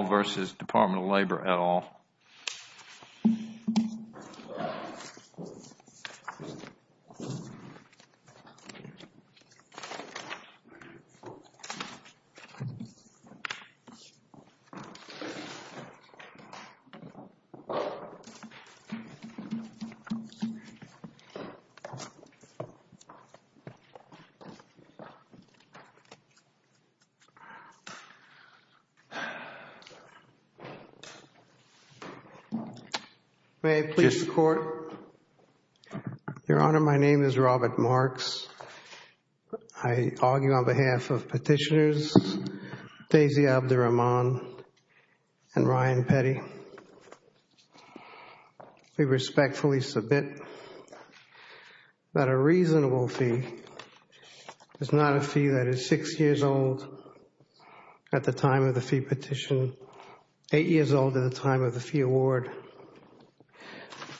v. U.S. Department of Labor at all. May it please the Court, Your Honor, my name is Robert Marks. I argue on behalf of Petitioners Daisy Abdur-Rahman and Ryan Petty. We respectfully submit that a reasonable fee is not a fee that is six years old at the time of the fee petition, eight years old at the time of the fee award,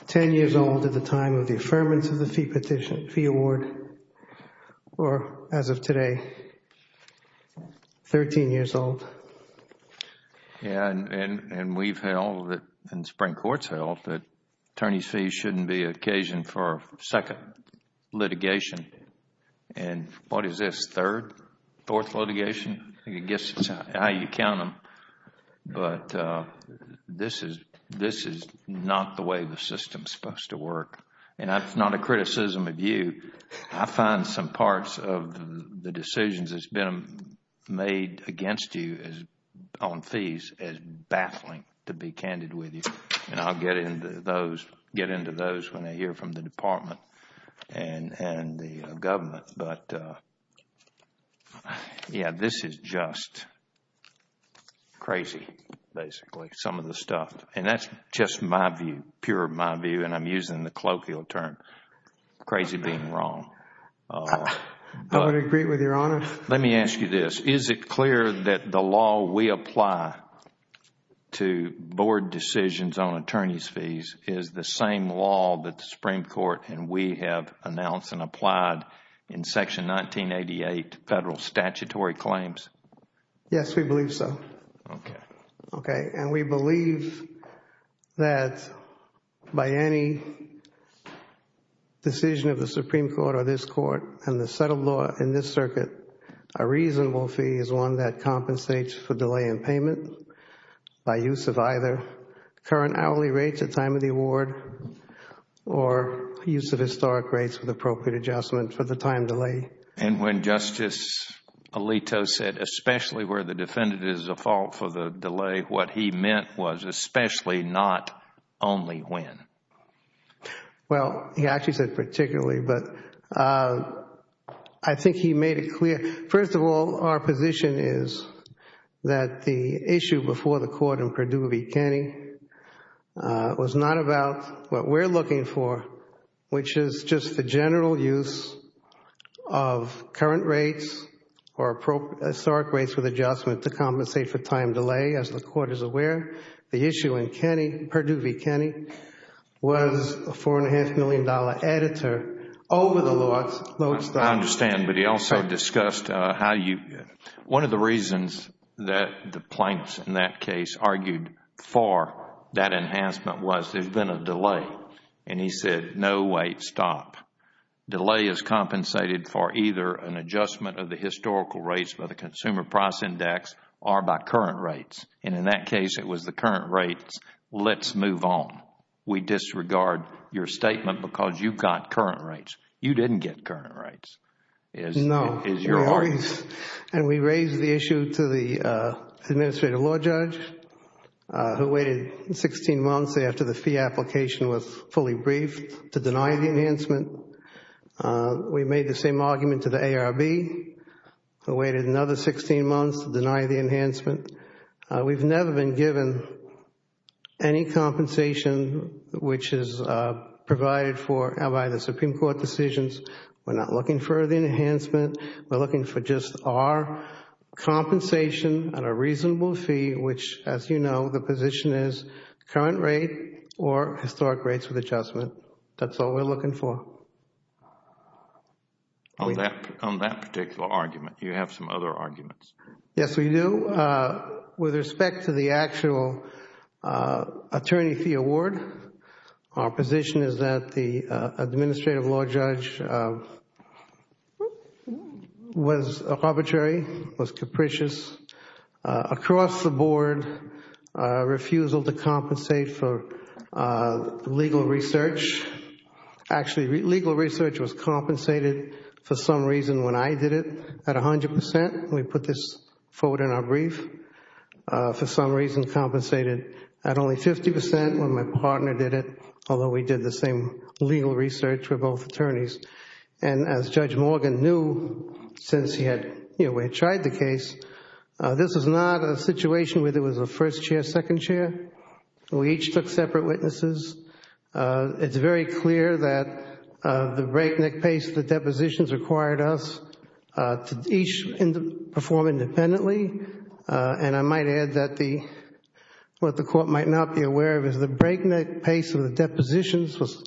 ten years old at the time of the affirmance of the fee petition, fee award, or as of today, thirteen years old. And we have held and the Supreme Court has held that attorneys' fees should not be occasioned for a second litigation. And what is this, third, fourth litigation? I guess it is how you count them. But this is not the way the system is supposed to work. And that is not a criticism of you. I find some parts of the decisions that have been made against you on fees as baffling to be candid with you. And I will get into those when I hear from the Department and the government. But, yeah, this is just crazy, basically, some of the stuff. And that is just my view, pure my view, and I am using the colloquial term, crazy being wrong. I would agree with Your Honor. Let me ask you this. Is it clear that the law we apply to board decisions on attorneys' fees is the same law that the Supreme Court and we have announced and applied in Section 1988, federal statutory claims? Yes, we believe so. Okay. Okay. And we believe that by any decision of the Supreme Court or this Court and the set of law in this circuit, a reasonable fee is one that compensates for delay in payment by use of either current hourly rates at time of the award or use of historic rates with appropriate adjustment for the time delay. And when Justice Alito said especially where the defendant is at fault for the delay, what he meant was especially, not only when? Well, he actually said particularly, but I think he made it clear. First of all, our position is that the issue before the Court in Perdue v. Kenney was not about what we are looking for, which is just the general use of current rates or historic rates with adjustment to compensate for time delay, as the Court is aware. The issue in Perdue v. Kenney was a $4.5 million editor over the Lord's. I understand. But he also discussed how you, one of the reasons that the plaintiffs in that case argued for that enhancement was there has been a delay and he said no, wait, stop. Delay is compensated for either an adjustment of the historical rates by the Consumer Price Index or by current rates and in that case, it was the current rates, let's move on. We disregard your statement because you got current rates. You didn't get current rates, is your argument. No, and we raised the issue to the Administrative Law Judge, who waited 16 months after the fee application was fully briefed to deny the enhancement. We made the same argument to the ARB, who waited another 16 months to deny the enhancement. We've never been given any compensation which is provided for by the Supreme Court decisions. We're not looking for the enhancement. We're looking for just our compensation and a reasonable fee, which as you know, the position is current rate or historic rates with adjustment. That's all we're looking for. On that particular argument, you have some other arguments. Yes, we do. With respect to the actual Attorney Fee Award, our position is that the Administrative Law Judge was arbitrary, was capricious, across the board, refusal to compensate for legal research. Actually, legal research was compensated for some reason when I did it at 100%. We put this forward in our brief, for some reason compensated at only 50% when my partner did it, although we did the same legal research for both attorneys. As Judge Morgan knew, since he had tried the case, this is not a situation where there was a first chair, second chair. We each took separate witnesses. It's very clear that the breakneck pace of the depositions required us to each perform independently. I might add that what the court might not be aware of is the breakneck pace of the depositions was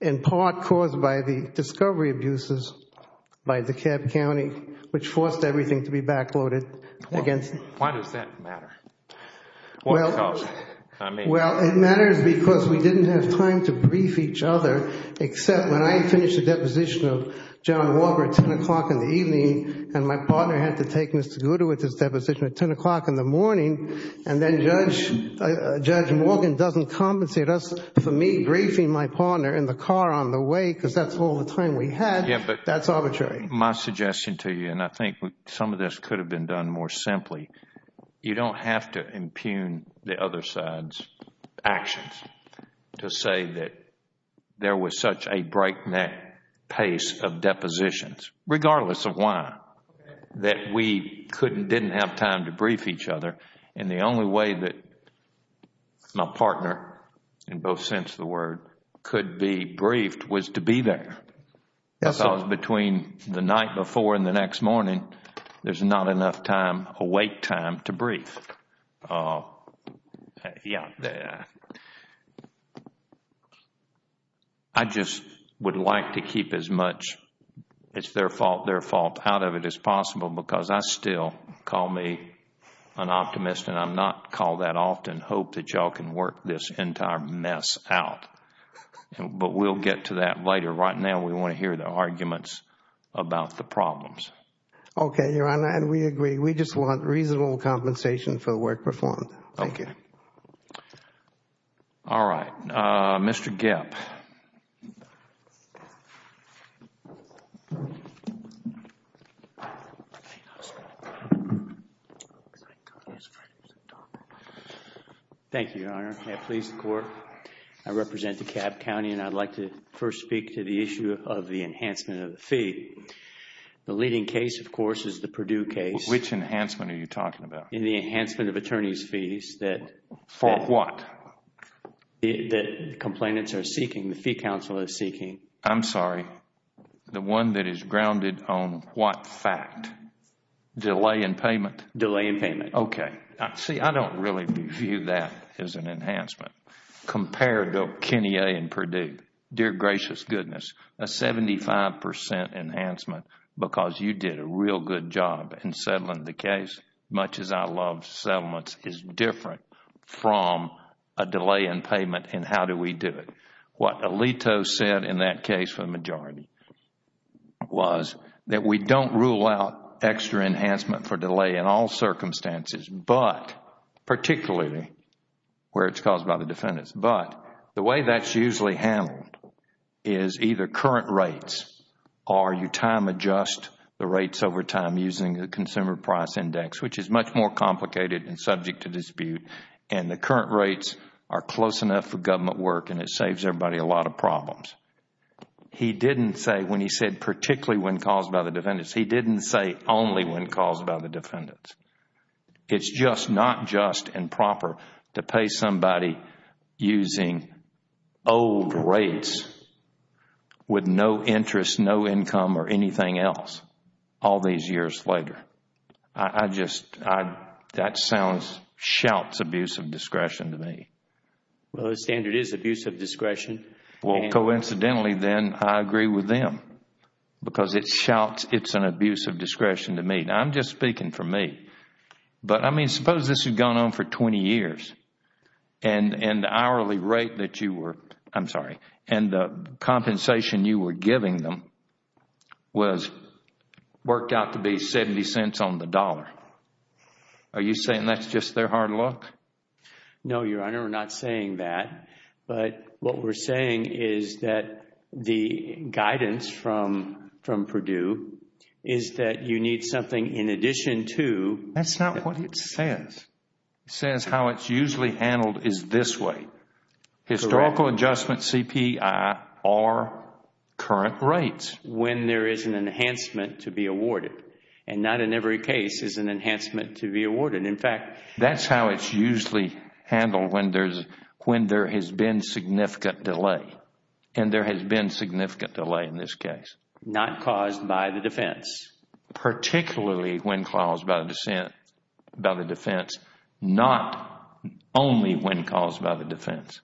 in part caused by the discovery abuses by DeKalb County, which forced everything to be backloaded. Why does that matter? What caused it? I mean... Well, it matters because we didn't have time to brief each other, except when I finished the deposition of John Walker at 10 o'clock in the evening, and my partner had to take Mr. Goodowitz's deposition at 10 o'clock in the morning, and then Judge Morgan doesn't compensate us for me briefing my partner in the car on the way, because that's all the time we had. That's arbitrary. Yes, but my suggestion to you, and I think some of this could have been done more simply, you don't have to impugn the other side's actions to say that there was such a breakneck pace of depositions, regardless of why, that we couldn't, didn't have time to brief each other, and the only way that my partner, in both sense of the word, could be briefed was to be there. I thought it was between the night before and the next morning, there's not enough time, awake time, to brief. I just would like to keep as much, it's their fault, their fault, out of it as possible, because I still call me an optimist, and I'm not called that often, hope that y'all can work this entire mess out, but we'll get to that later. Right now, we want to hear the arguments about the problems. Okay, Your Honor, and we agree. We just want reasonable compensation for the work performed. Thank you. All right. Mr. Gepp. Thank you, Your Honor. May it please the Court, I represent DeKalb County, and I'd like to first speak to the issue of the enhancement of the fee. The leading case, of course, is the Purdue case. Which enhancement are you talking about? In the enhancement of attorney's fees that the complainants are seeking, the fee counsel is seeking. I'm sorry. The one that is grounded on what fact? Delay in payment? Delay in payment. Okay. See, I don't really view that as an enhancement. Compare it to Kenny A. and Purdue. Dear gracious goodness, a 75 percent enhancement because you did a real good job in settling the case. As much as I love settlements, it's different from a delay in payment and how do we do it. What Alito said in that case for the majority was that we don't rule out extra enhancement for delay in all circumstances, but particularly where it's caused by the defendants. But the way that's usually handled is either current rates or you time adjust the rates over time using the consumer price index, which is much more complicated and subject to dispute. The current rates are close enough for government work and it saves everybody a lot of problems. He didn't say when he said particularly when caused by the defendants. He didn't say only when caused by the defendants. It's just not just and proper to pay somebody using old rates with no interest, no income or anything else all these years later. That sounds, shouts abuse of discretion to me. Well, the standard is abuse of discretion. Well, coincidentally then, I agree with them because it shouts it's an abuse of discretion to me. I'm just speaking for me. But, I mean, suppose this had gone on for 20 years and the hourly rate that you were I'm sorry, and the compensation you were giving them was worked out to be 70 cents on the dollar. Are you saying that's just their hard luck? No, Your Honor, we're not saying that. But what we're saying is that the guidance from Purdue is that you need something in addition to That's not what it says. It says how it's usually handled is this way, historical adjustment CPI or current rates. When there is an enhancement to be awarded and not in every case is an enhancement to be awarded. That's how it's usually handled when there has been significant delay. And there has been significant delay in this case. Not caused by the defense. Particularly when caused by the defense, not only when caused by the defense.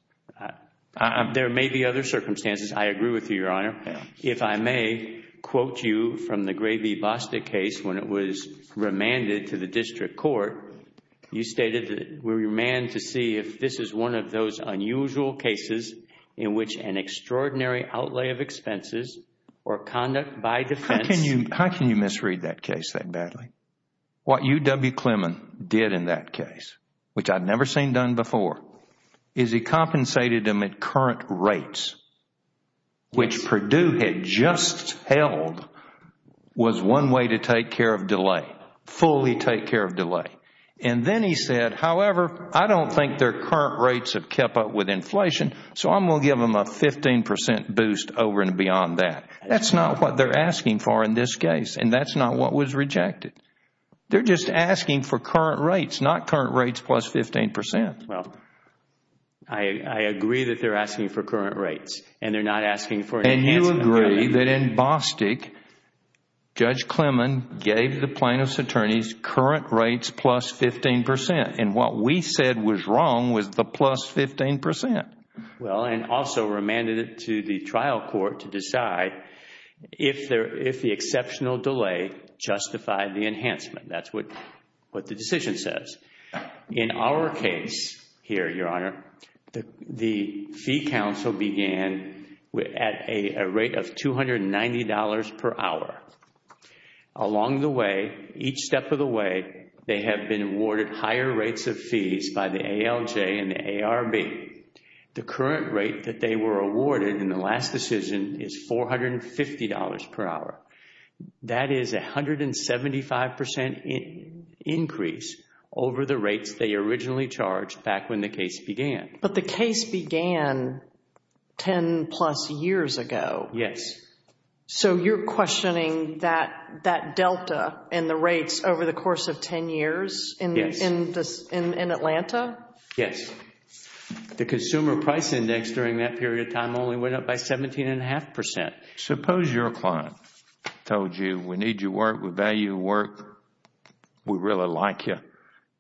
There may be other circumstances. I agree with you, Your Honor. If I may quote you from the Gray v. Bostick case when it was remanded to the district court. You stated that we're remanded to see if this is one of those unusual cases in which an extraordinary outlay of expenses or conduct by defense How can you misread that case that badly? What UW Clemmon did in that case, which I've never seen done before, is he compensated them at current rates, which Purdue had just held was one way to take care of delay, fully take care of delay. And then he said, however, I don't think their current rates have kept up with inflation, so I'm going to give them a 15 percent boost over and beyond that. That's not what they're asking for in this case, and that's not what was rejected. They're just asking for current rates, not current rates plus 15 percent. Well, I agree that they're asking for current rates, and they're not asking for an enhancement. And you agree that in Bostick, Judge Clemmon gave the plaintiff's attorneys current rates plus 15 percent, and what we said was wrong was the plus 15 percent. Well, and also remanded it to the trial court to decide if the exceptional delay justified the enhancement. That's what the decision says. In our case here, Your Honor, the fee counsel began at a rate of $290 per hour. Along the way, each step of the way, they have been awarded higher rates of fees by the ALJ and the ARB. The current rate that they were awarded in the last decision is $450 per hour. That is a 175 percent increase over the rates they originally charged back when the case began. But the case began 10 plus years ago. Yes. So, you're questioning that delta in the rates over the course of 10 years in Atlanta? Yes. The consumer price index during that period of time only went up by 17 and a half percent. Suppose your client told you, we need your work, we value your work, we really like you,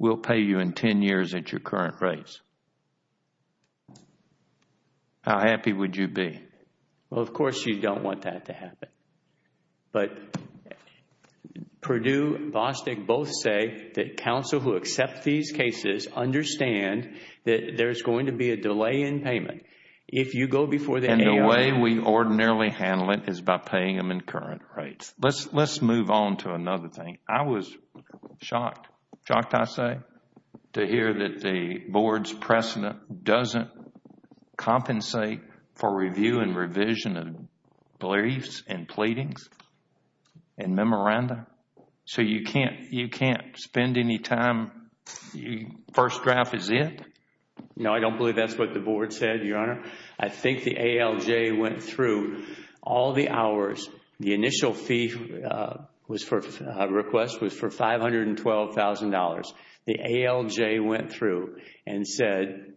we'll pay you in 10 years at your current rates. How happy would you be? Well, of course, you don't want that to happen. But Purdue and Bostick both say that counsel who accept these cases understand that there is going to be a delay in payment. If you go before the ARB... And the way we ordinarily handle it is by paying them in current rates. Let's move on to another thing. I was shocked, shocked I say, to hear that the Board's precedent doesn't compensate for review and revision of briefs and pleadings and memoranda. So you can't spend any time... first draft is it? No, I don't believe that's what the Board said, Your Honor. I think the ALJ went through all the hours. The initial fee request was for $512,000. The ALJ went through and said,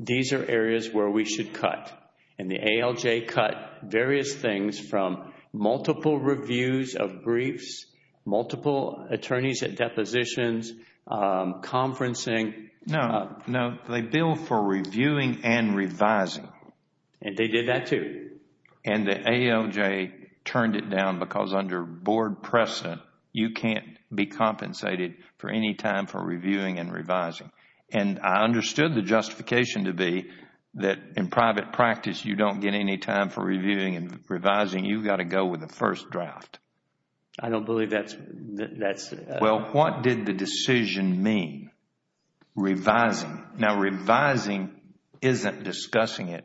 these are areas where we should cut, and the ALJ cut various things from multiple reviews of briefs, multiple attorneys at depositions, conferencing... No, they billed for reviewing and revising. And they did that too. And the ALJ turned it down because under Board precedent, you can't be compensated for any time for reviewing and revising. And I understood the justification to be that in private practice, you don't get any time for reviewing and revising. You've got to go with the first draft. I don't believe that's... Now, revising isn't discussing it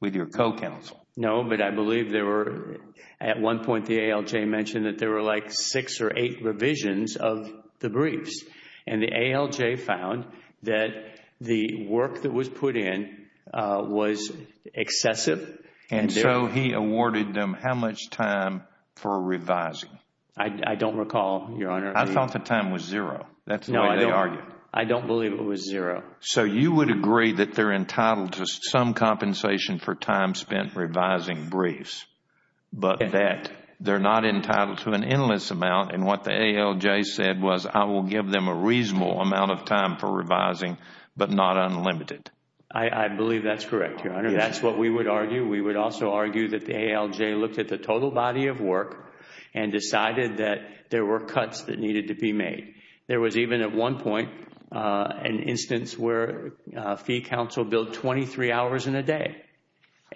with your co-counsel. No, but I believe there were... at one point, the ALJ mentioned that there were like six or eight revisions of the briefs. And the ALJ found that the work that was put in was excessive. And so he awarded them how much time for revising? I don't recall, Your Honor. I thought the time was zero. That's the way they argued. I don't believe it was zero. So you would agree that they're entitled to some compensation for time spent revising briefs, but that they're not entitled to an endless amount. And what the ALJ said was, I will give them a reasonable amount of time for revising, but not unlimited. I believe that's correct, Your Honor. That's what we would argue. We would also argue that the ALJ looked at the total body of work and decided that there were cuts that needed to be made. There was even, at one point, an instance where a fee counsel billed 23 hours in a day.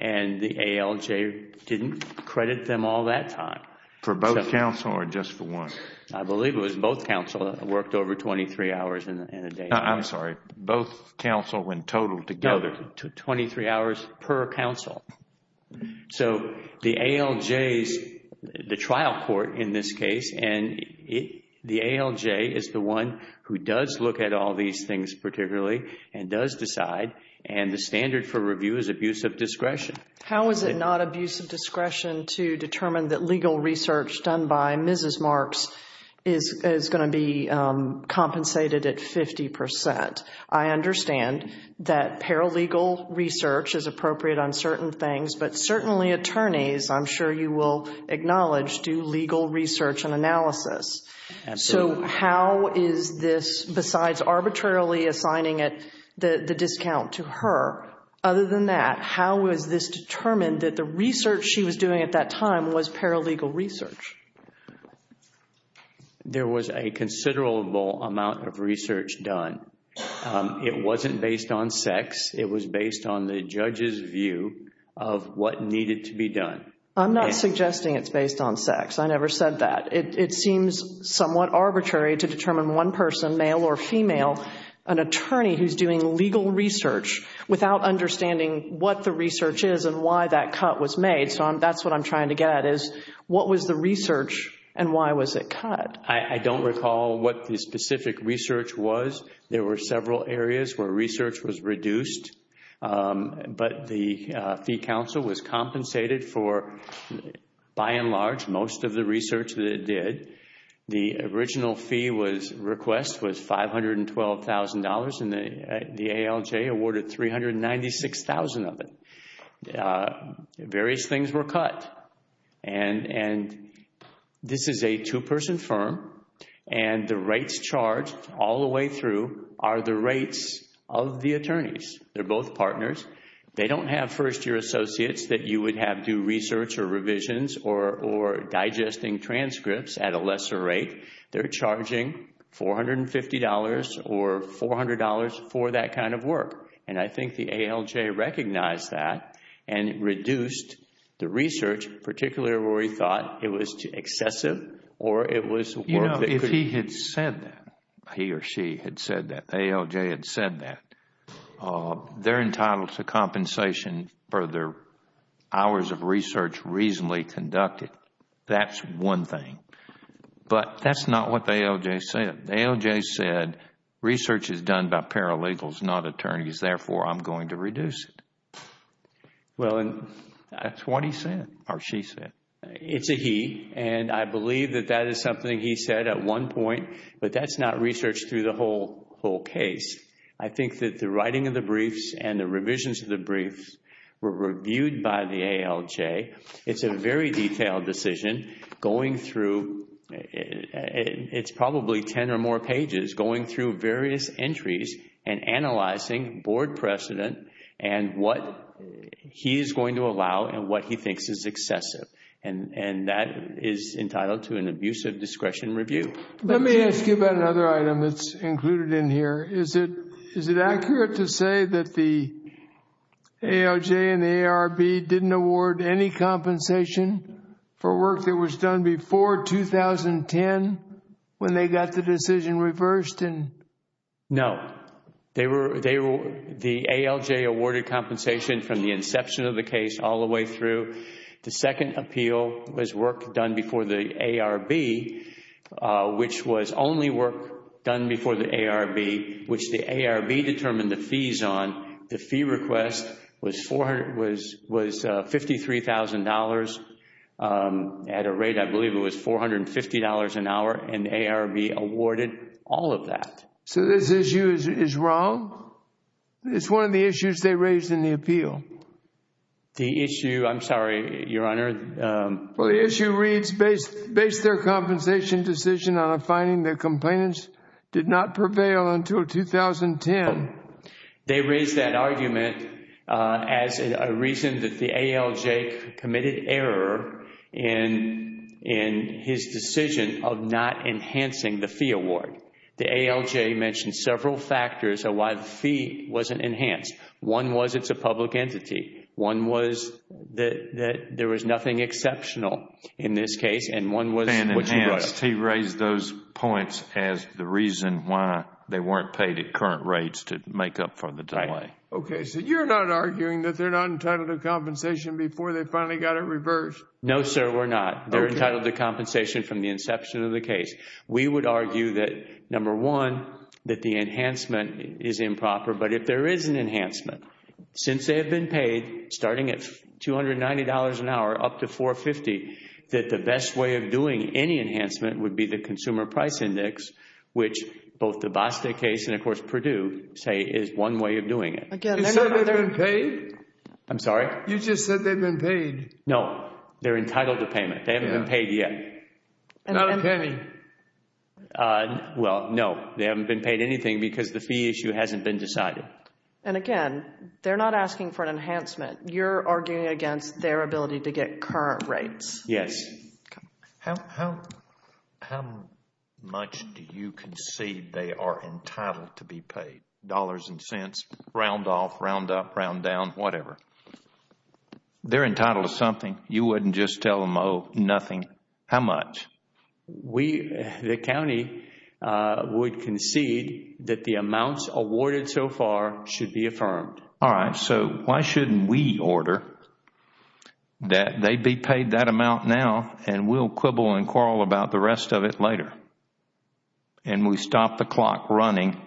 And the ALJ didn't credit them all that time. For both counsel or just for one? I believe it was both counsel that worked over 23 hours in a day. I'm sorry. Both counsel when totaled together? No, 23 hours per counsel. So, the ALJ's, the trial court in this case, and the ALJ is the one who does look at all these things particularly, and does decide, and the standard for review is abuse of discretion. How is it not abuse of discretion to determine that legal research done by Mrs. Marks is going to be compensated at 50 percent? I understand that paralegal research is appropriate on certain things, but certainly attorneys, I'm sure you will acknowledge, do legal research and analysis. So how is this, besides arbitrarily assigning it, the discount to her, other than that, how is this determined that the research she was doing at that time was paralegal research? There was a considerable amount of research done. It wasn't based on sex. It was based on the judge's view of what needed to be done. I'm not suggesting it's based on sex. I never said that. It seems somewhat arbitrary to determine one person, male or female, an attorney who's doing legal research without understanding what the research is and why that cut was made. So that's what I'm trying to get at, is what was the research and why was it cut? I don't recall what the specific research was. There were several areas where research was reduced, but the fee counsel was compensated for, by and large, most of the research that it did. The original fee request was $512,000 and the ALJ awarded $396,000 of it. Various things were cut. This is a two-person firm and the rates charged all the way through are the rates of the attorneys. They're both partners. They don't have first-year associates that you would have do research or revisions or digesting transcripts at a lesser rate. They're charging $450 or $400 for that kind of work. I think the ALJ recognized that and reduced the research, particularly where he thought it was excessive or it was work that could... If he had said that, he or she had said that, the ALJ had said that, they're entitled to compensation for their hours of research reasonably conducted. That's one thing. But that's not what the ALJ said. The ALJ said research is done by paralegals, not attorneys, therefore, I'm going to reduce it. That's what he said or she said. It's a he and I believe that that is something he said at one point, but that's not researched through the whole case. I think that the writing of the briefs and the revisions of the briefs were reviewed by the ALJ. It's a very detailed decision going through... it's probably ten or more pages going through various entries and analyzing board precedent and what he is going to allow and what he thinks is excessive. And that is entitled to an abusive discretion review. Let me ask you about another item that's included in here. Is it accurate to say that the ALJ and the ARB didn't award any compensation for work that was done before 2010 when they got the decision reversed? No. The ALJ awarded compensation from the inception of the case all the way through. The second appeal was work done before the ARB, which was only work done before the ARB, which the ARB determined the fees on. The fee request was $53,000 at a rate I believe it was $450 an hour and the ARB awarded all of that. So this issue is wrong? The issue... I'm sorry, Your Honor. The issue reads, based their compensation decision on a finding that complainants did not prevail until 2010. They raised that argument as a reason that the ALJ committed error in his decision of not enhancing the fee award. The ALJ mentioned several factors of why the fee wasn't enhanced. One was it's a public entity. One was that there was nothing exceptional in this case. And one was... And enhanced. He raised those points as the reason why they weren't paid at current rates to make up for the delay. Okay. So you're not arguing that they're not entitled to compensation before they finally got it reversed? No, sir. We're not. They're entitled to compensation from the inception of the case. We would argue that, number one, that the enhancement is improper. But if there is an enhancement, since they have been paid, starting at $290 an hour up to $450, that the best way of doing any enhancement would be the Consumer Price Index, which both the Basta case and, of course, Purdue say is one way of doing it. You said they've been paid? I'm sorry? You just said they've been paid. No. They're entitled to payment. They haven't been paid yet. Not a penny. Well, no. They haven't been paid anything because the fee issue hasn't been decided. And, again, they're not asking for an enhancement. You're arguing against their ability to get current rates. Yes. Okay. How much do you concede they are entitled to be paid? Dollars and cents, round off, round up, round down, whatever. They're entitled to something. You wouldn't just tell them, oh, nothing. How much? We, the county, would concede that the amounts awarded so far should be affirmed. All right. So why shouldn't we order that they be paid that amount now and we'll quibble and quarrel about the rest of it later and we stop the clock running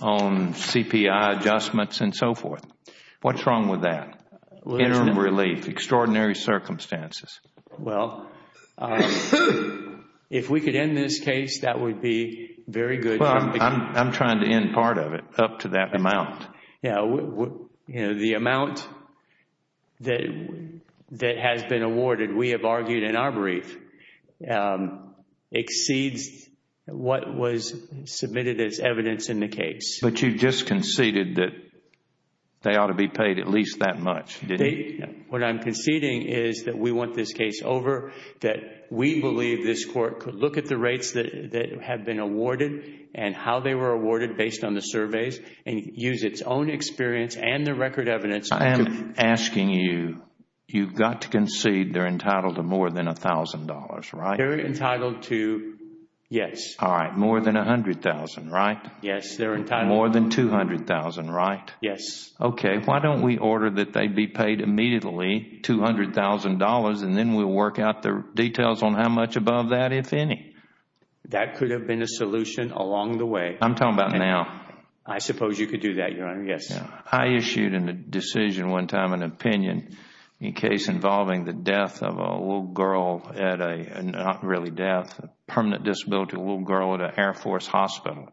on CPI adjustments and so forth? What's wrong with that? Interim relief. Extraordinary circumstances. Well, if we could end this case, that would be very good. Well, I'm trying to end part of it up to that amount. Yeah. The amount that has been awarded, we have argued in our brief, exceeds what was submitted as evidence in the case. But you just conceded that they ought to be paid at least that much, didn't you? What I'm conceding is that we want this case over, that we believe this court could look at the rates that have been awarded and how they were awarded based on the surveys and use its own experience and the record evidence... I am asking you, you've got to concede they're entitled to more than $1,000, right? They're entitled to, yes. All right. More than $100,000, right? Yes, they're entitled... More than $200,000, right? Yes. Okay. Why don't we order that they be paid immediately $200,000 and then we'll work out the details on how much above that, if any? That could have been a solution along the way. I'm talking about now. I suppose you could do that, Your Honor. Yes. I issued a decision one time, an opinion, a case involving the death of a little girl at a, not really death, permanent disability, a little girl at an Air Force hospital.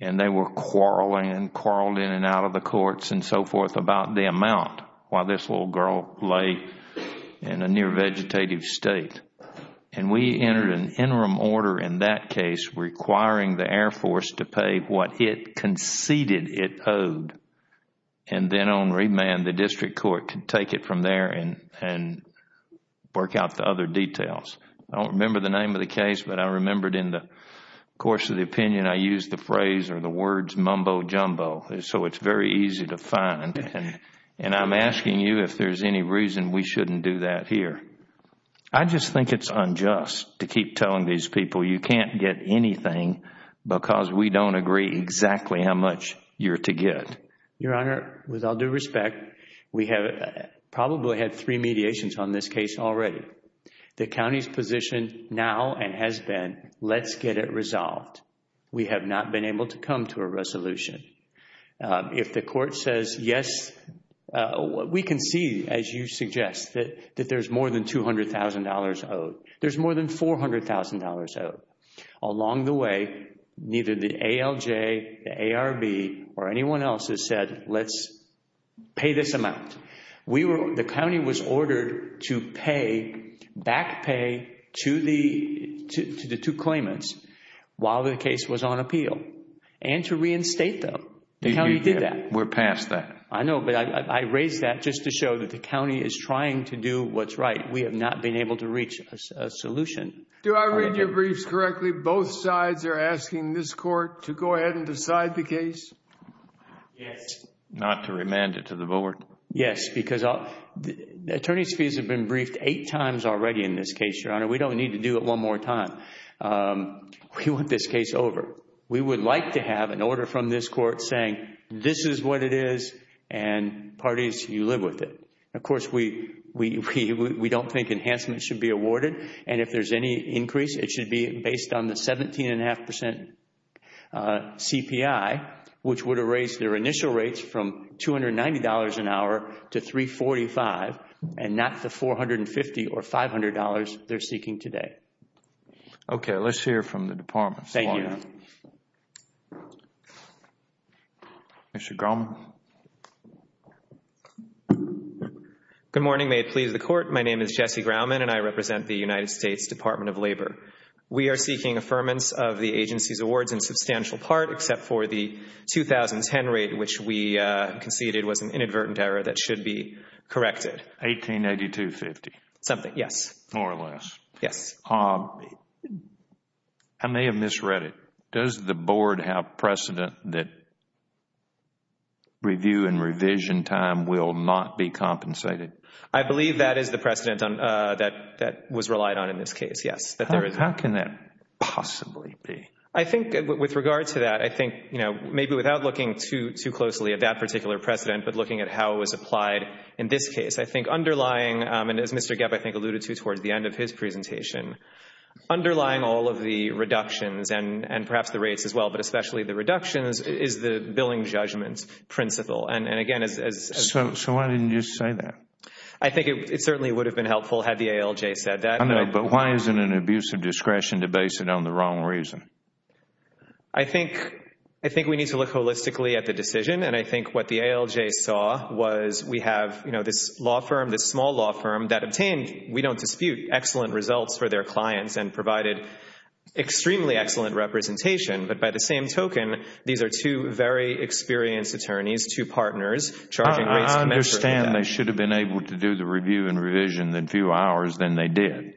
They were quarreling and quarreled in and out of the courts and so forth about the amount while this little girl lay in a near vegetative state. We entered an interim order in that case requiring the Air Force to pay what it conceded it owed and then on remand, the district court could take it from there and work out the other details. I don't remember the name of the case, but I remembered in the course of the opinion, I used the phrase or the words mumbo-jumbo, so it's very easy to find. I'm asking you if there's any reason we shouldn't do that here. I just think it's unjust to keep telling these people you can't get anything because we don't agree exactly how much you're to get. Your Honor, with all due respect, we have probably had three mediations on this case already. The county's position now and has been let's get it resolved. We have not been able to come to a resolution. If the court says yes, we can see, as you suggest, that there's more than $200,000 owed. There's more than $400,000 owed. Along the way, neither the ALJ, the ARB, or anyone else has said let's pay this amount. The county was ordered to back pay to the two claimants while the case was on appeal and to reinstate them. The county did that. We're past that. I know, but I raise that just to show that the county is trying to do what's right. We have not been able to reach a solution. Do I read your briefs correctly? Both sides are asking this court to go ahead and decide the case? Yes. Not to remand it to the board? Yes, because the attorney's fees have been briefed eight times already in this case, Your Honor. We don't need to do it one more time. We want this case over. We would like to have an order from this court saying this is what it is and parties, you live with it. Of course, we don't think enhancement should be awarded and if there's any increase, it should be based on the 17.5% CPI, which would erase their initial rates from $290 an hour to $345 and not the $450 or $500 they're seeking today. Okay. Let's hear from the department. Thank you. Mr. Grauman. Good morning. May it please the court. My name is Jesse Grauman and I represent the United States Department of Labor. We are seeking affirmance of the agency's awards in substantial part except for the 2010 rate, which we conceded was an inadvertent error that should be corrected. 1882.50? Something, yes. More or less? Yes. I may have misread it. Does the board have precedent that review and revision time will not be compensated? I believe that is the precedent that was relied on in this case, yes. How can that possibly be? I think with regard to that, I think maybe without looking too closely at that particular precedent but looking at how it was applied in this case. I think underlying, and as Mr. Geb I think alluded to towards the end of his presentation, underlying all of the reductions and perhaps the rates as well, but especially the reductions is the billing judgment principle. Why didn't you say that? I think it certainly would have been helpful had the ALJ said that. I know, but why is it an abuse of discretion to base it on the wrong reason? I think we need to look holistically at the decision and I think what the ALJ saw was we have this law firm, this small law firm that obtained, we don't dispute, excellent results for their clients and provided extremely excellent representation, but by the same I understand they should have been able to do the review and revision in fewer hours than they did,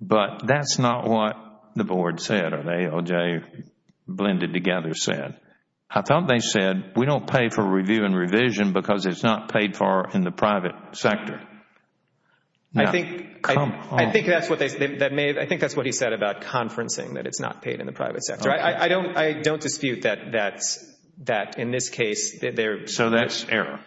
but that is not what the board said or the ALJ blended together said. I thought they said we don't pay for review and revision because it is not paid for in the private sector. I think that is what he said about conferencing, that it is not paid in the private sector. I don't dispute that in this case. So that is error.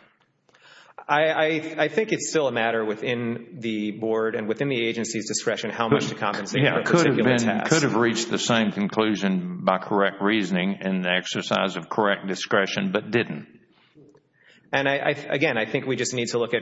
I think it is still a matter within the board and within the agency's discretion how much to compensate for a particular task. Could have reached the same conclusion by correct reasoning and the exercise of correct discretion, but didn't. Again, I think we just need to look at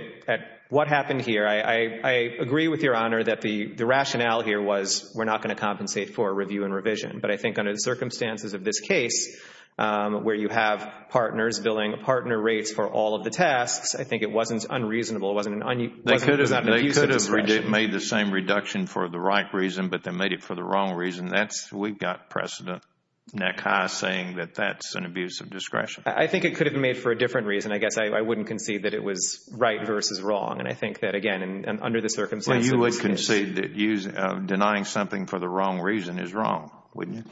what happened here. I agree with Your Honor that the rationale here was we are not going to compensate for review and revision, but I think under the circumstances of this case where you have partners billing partner rates for all of the tasks, I think it wasn't unreasonable. It wasn't an abusive discretion. They could have made the same reduction for the right reason, but they made it for the wrong reason. We have precedent neck high saying that that is an abusive discretion. I think it could have been made for a different reason. I guess I wouldn't concede that it was right versus wrong. I think that, again, under the circumstances You would concede that denying something for the wrong reason is wrong, wouldn't you?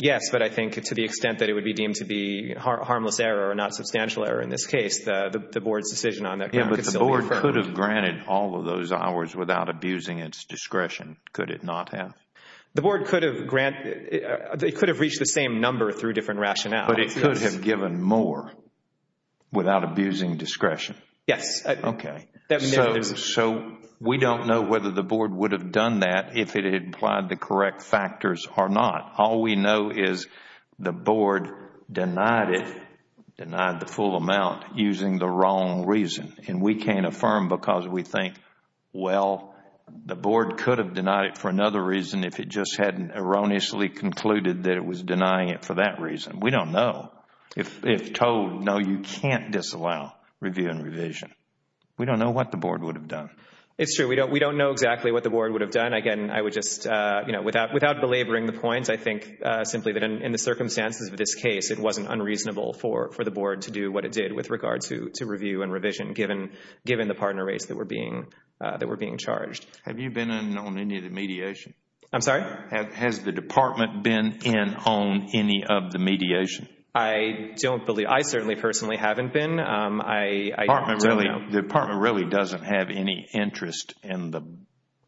Yes, but I think to the extent that it would be deemed to be harmless error or not substantial error in this case, the board's decision on that can still be affirmed. Yes, but the board could have granted all of those hours without abusing its discretion. Could it not have? The board could have reached the same number through different rationale. But it could have given more without abusing discretion. Yes. So we don't know whether the board would have done that if it had applied the correct factors or not. All we know is the board denied it, denied the full amount using the wrong reason. And we can't affirm because we think, well, the board could have denied it for another reason if it just hadn't erroneously concluded that it was denying it for that reason. We don't know. If told, no, you can't disallow review and revision. We don't know what the board would have done. It's true. We don't know exactly what the board would have done. Again, I would just, you know, without belaboring the point, I think simply that in the circumstances of this case, it wasn't unreasonable for the board to do what it did with regard to review and revision given the partner rates that were being charged. Have you been in on any of the mediation? I'm sorry? Has the department been in on any of the mediation? I don't believe, I certainly personally haven't been. The department really doesn't have any interest in the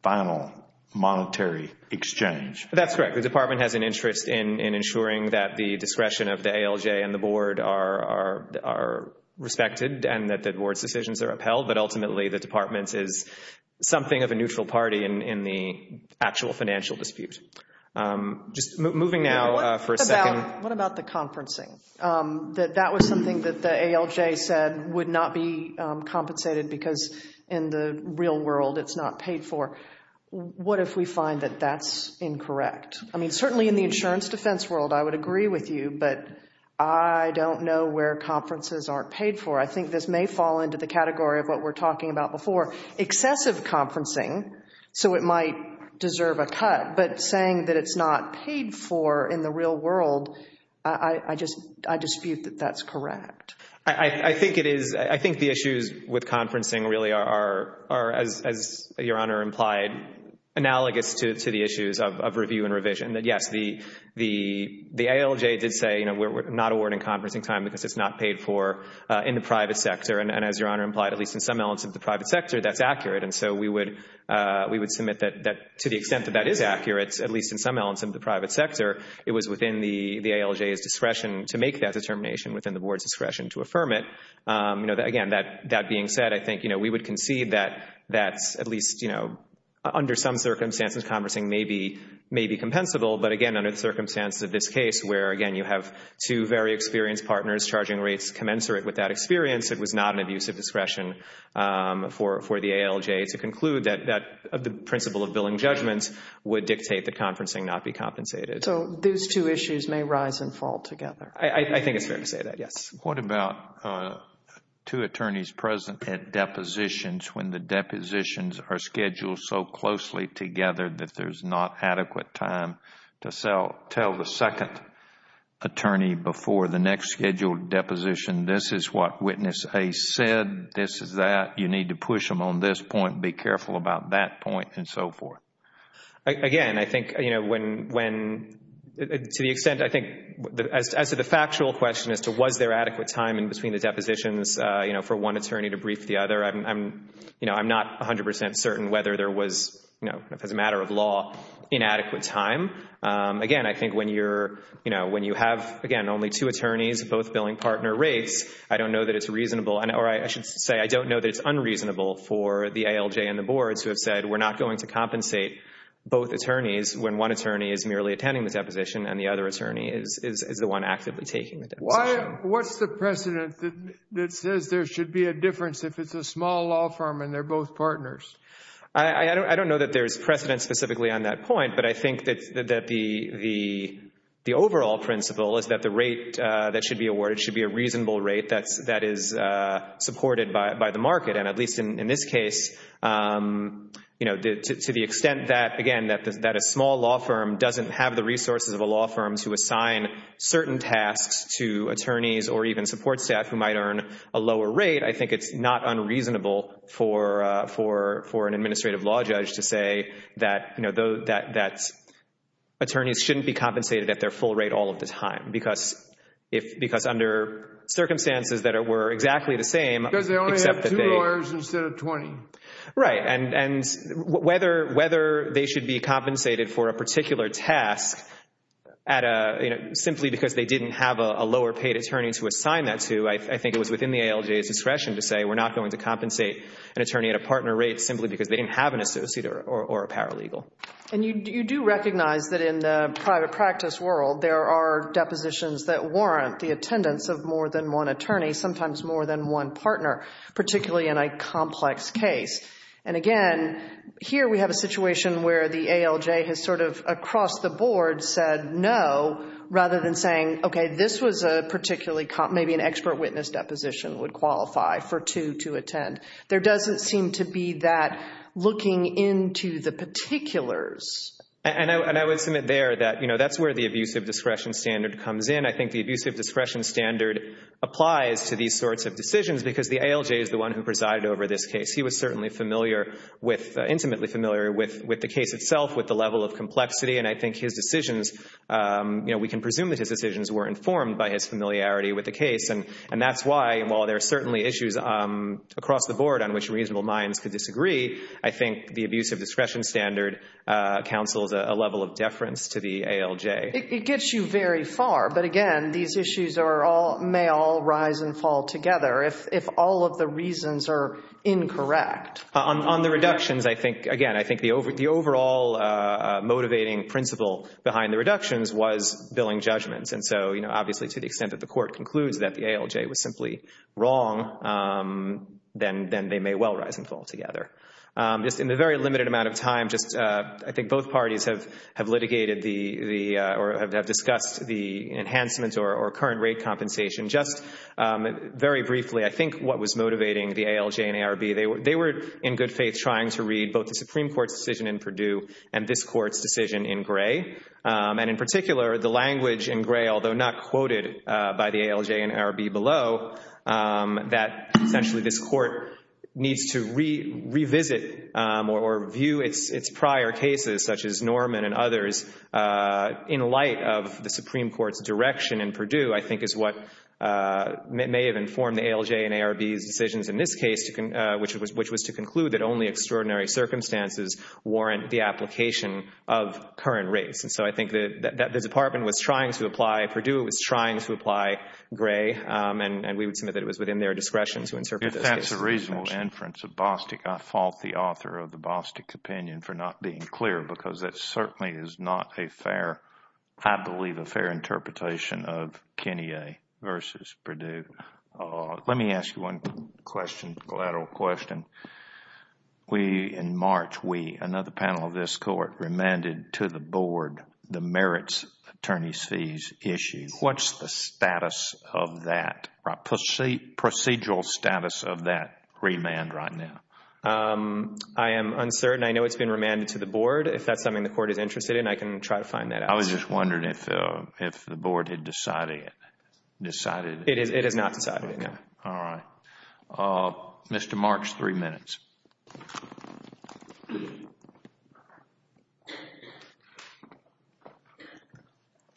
final monetary exchange. That's correct. The department has an interest in ensuring that the discretion of the ALJ and the board are respected and that the board's decisions are upheld. But ultimately, the department is something of a neutral party in the actual financial dispute. Just moving now for a second. What about the conferencing? That was something that the ALJ said would not be compensated because in the real world it's not paid for. What if we find that that's incorrect? I mean, certainly in the insurance defense world, I would agree with you, but I don't know where conferences aren't paid for. I think this may fall into the category of what we're talking about before. Excessive conferencing, so it might deserve a cut, but saying that it's not paid for in the real world, I dispute that that's correct. I think the issues with conferencing really are, as Your Honor implied, analogous to the issues of review and revision. Yes, the ALJ did say we're not awarding conferencing time because it's not paid for in the private sector. And as Your Honor implied, at least in some elements of the private sector, that's accurate. And so we would submit that to the extent that that is accurate, at least in some elements of the private sector, it was within the ALJ's discretion to make that determination within the Board's discretion to affirm it. Again, that being said, I think we would concede that that's at least under some circumstances conferencing may be compensable. But again, under the circumstances of this case where, again, you have two very experienced partners, charging rates commensurate with that experience, it was not an abuse of discretion for the ALJ to conclude that the principle of billing judgments would dictate that conferencing not be compensated. So those two issues may rise and fall together. I think it's fair to say that, yes. What about two attorneys present at depositions when the depositions are scheduled so closely together that there's not adequate time to tell the second attorney before the next scheduled deposition, this is what Witness A said, this is that, you need to push them on this point, be careful about that point, and so forth. Again, I think when, to the extent, I think, as to the factual question as to was there adequate time in between the depositions for one attorney to brief the other, I'm not 100 percent certain whether there was, as a matter of law, inadequate time. Again, I think when you have, again, only two attorneys, both billing partner rates, I don't know that it's reasonable, or I should say I don't know that it's unreasonable for the ALJ and the boards who have said we're not going to compensate both attorneys when one attorney is merely attending the deposition and the other attorney is the one actively taking the deposition. Why, what's the precedent that says there should be a difference if it's a small law firm and they're both partners? I don't know that there's precedent specifically on that point, but I think that the overall principle is that the rate that should be awarded should be a reasonable rate that is supported by the market, and at least in this case, to the extent that, again, that a small law firm doesn't have the resources of a law firm to assign certain tasks to attorneys or even support staff who might earn a lower rate, I think it's not unreasonable for an administrative law judge to say that attorneys shouldn't be compensated at their full rate all of the time because under circumstances that were exactly the same... Because they only have two lawyers instead of 20. Right, and whether they should be compensated for a particular task simply because they didn't have a lower paid attorney to assign that to, I think it was within the ALJ's discretion to say we're not going to compensate an attorney at a partner rate simply because they didn't have an associate or a paralegal. And you do recognize that in the private practice world, there are depositions that warrant the attendance of more than one attorney, sometimes more than one partner, particularly in a complex case. And again, here we have a situation where the ALJ has sort of across the board said no rather than saying, okay, this was a particularly... maybe an expert witness deposition would qualify for two to attend. There doesn't seem to be that looking into the particulars. And I would submit there that that's where the abusive discretion standard comes in. I think the abusive discretion standard applies to these sorts of decisions because the ALJ is the one who presided over this case. He was certainly familiar with, intimately familiar with the case itself, with the level of complexity. And I think his decisions, we can presume that his decisions were informed by his familiarity with the case. And that's why, while there are certainly issues across the board on which reasonable minds could disagree, I think the abusive discretion standard counsels a level of deference to the ALJ. It gets you very far. But again, these issues may all rise and fall together if all of the reasons are incorrect. On the reductions, I think, again, I think the overall motivating principle behind the reductions was billing judgments. And so, you know, obviously to the extent that the court concludes that the ALJ was simply wrong, then they may well rise and fall together. Just in the very limited amount of time, just I think both parties have litigated the or have discussed the enhancements or current rate compensation. Just very briefly, I think what was motivating the ALJ and ARB, they were in good faith trying to read both the Supreme Court's decision in Purdue and this Court's decision in Gray. And in particular, the language in Gray, although not quoted by the ALJ and ARB below, that essentially this Court needs to revisit or view its prior cases, such as Norman and others, in light of the Supreme Court's direction in Purdue, I think is what may have informed the ALJ and ARB's decisions in this case, which was to conclude that only extraordinary circumstances warrant the application of current rates. And so I think that the Department was trying to apply Purdue, it was trying to apply Gray, and we would submit that it was within their discretion to interpret this case. If that's a reasonable inference of Bostick, I fault the author of the Bostick opinion for not being clear because that certainly is not a fair, I believe, a fair interpretation of Kinnear versus Purdue. Let me ask you one question, collateral question. In March, another panel of this Court remanded to the Board the merits attorney's fees issue. What's the status of that, procedural status of that remand right now? I am uncertain. I know it's been remanded to the Board. If that's something the Court is interested in, I can try to find that out. I was just wondering if the Board had decided. It has not decided, no. Okay. All right. Mr. Marks, three minutes.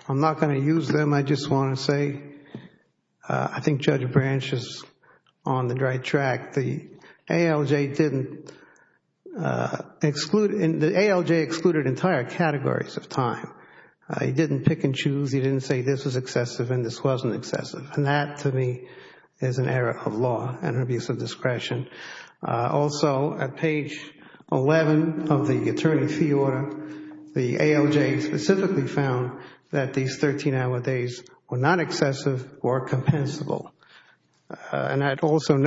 I'm not going to use them. I just want to say I think Judge Branch is on the right track. The ALJ excluded entire categories of time. He didn't pick and choose. He didn't say this is excessive and this wasn't excessive. That, to me, is an error of law and abuse of discretion. Also, at page 11 of the attorney fee order, the ALJ specifically found that these 13-hour days were not excessive or compensable.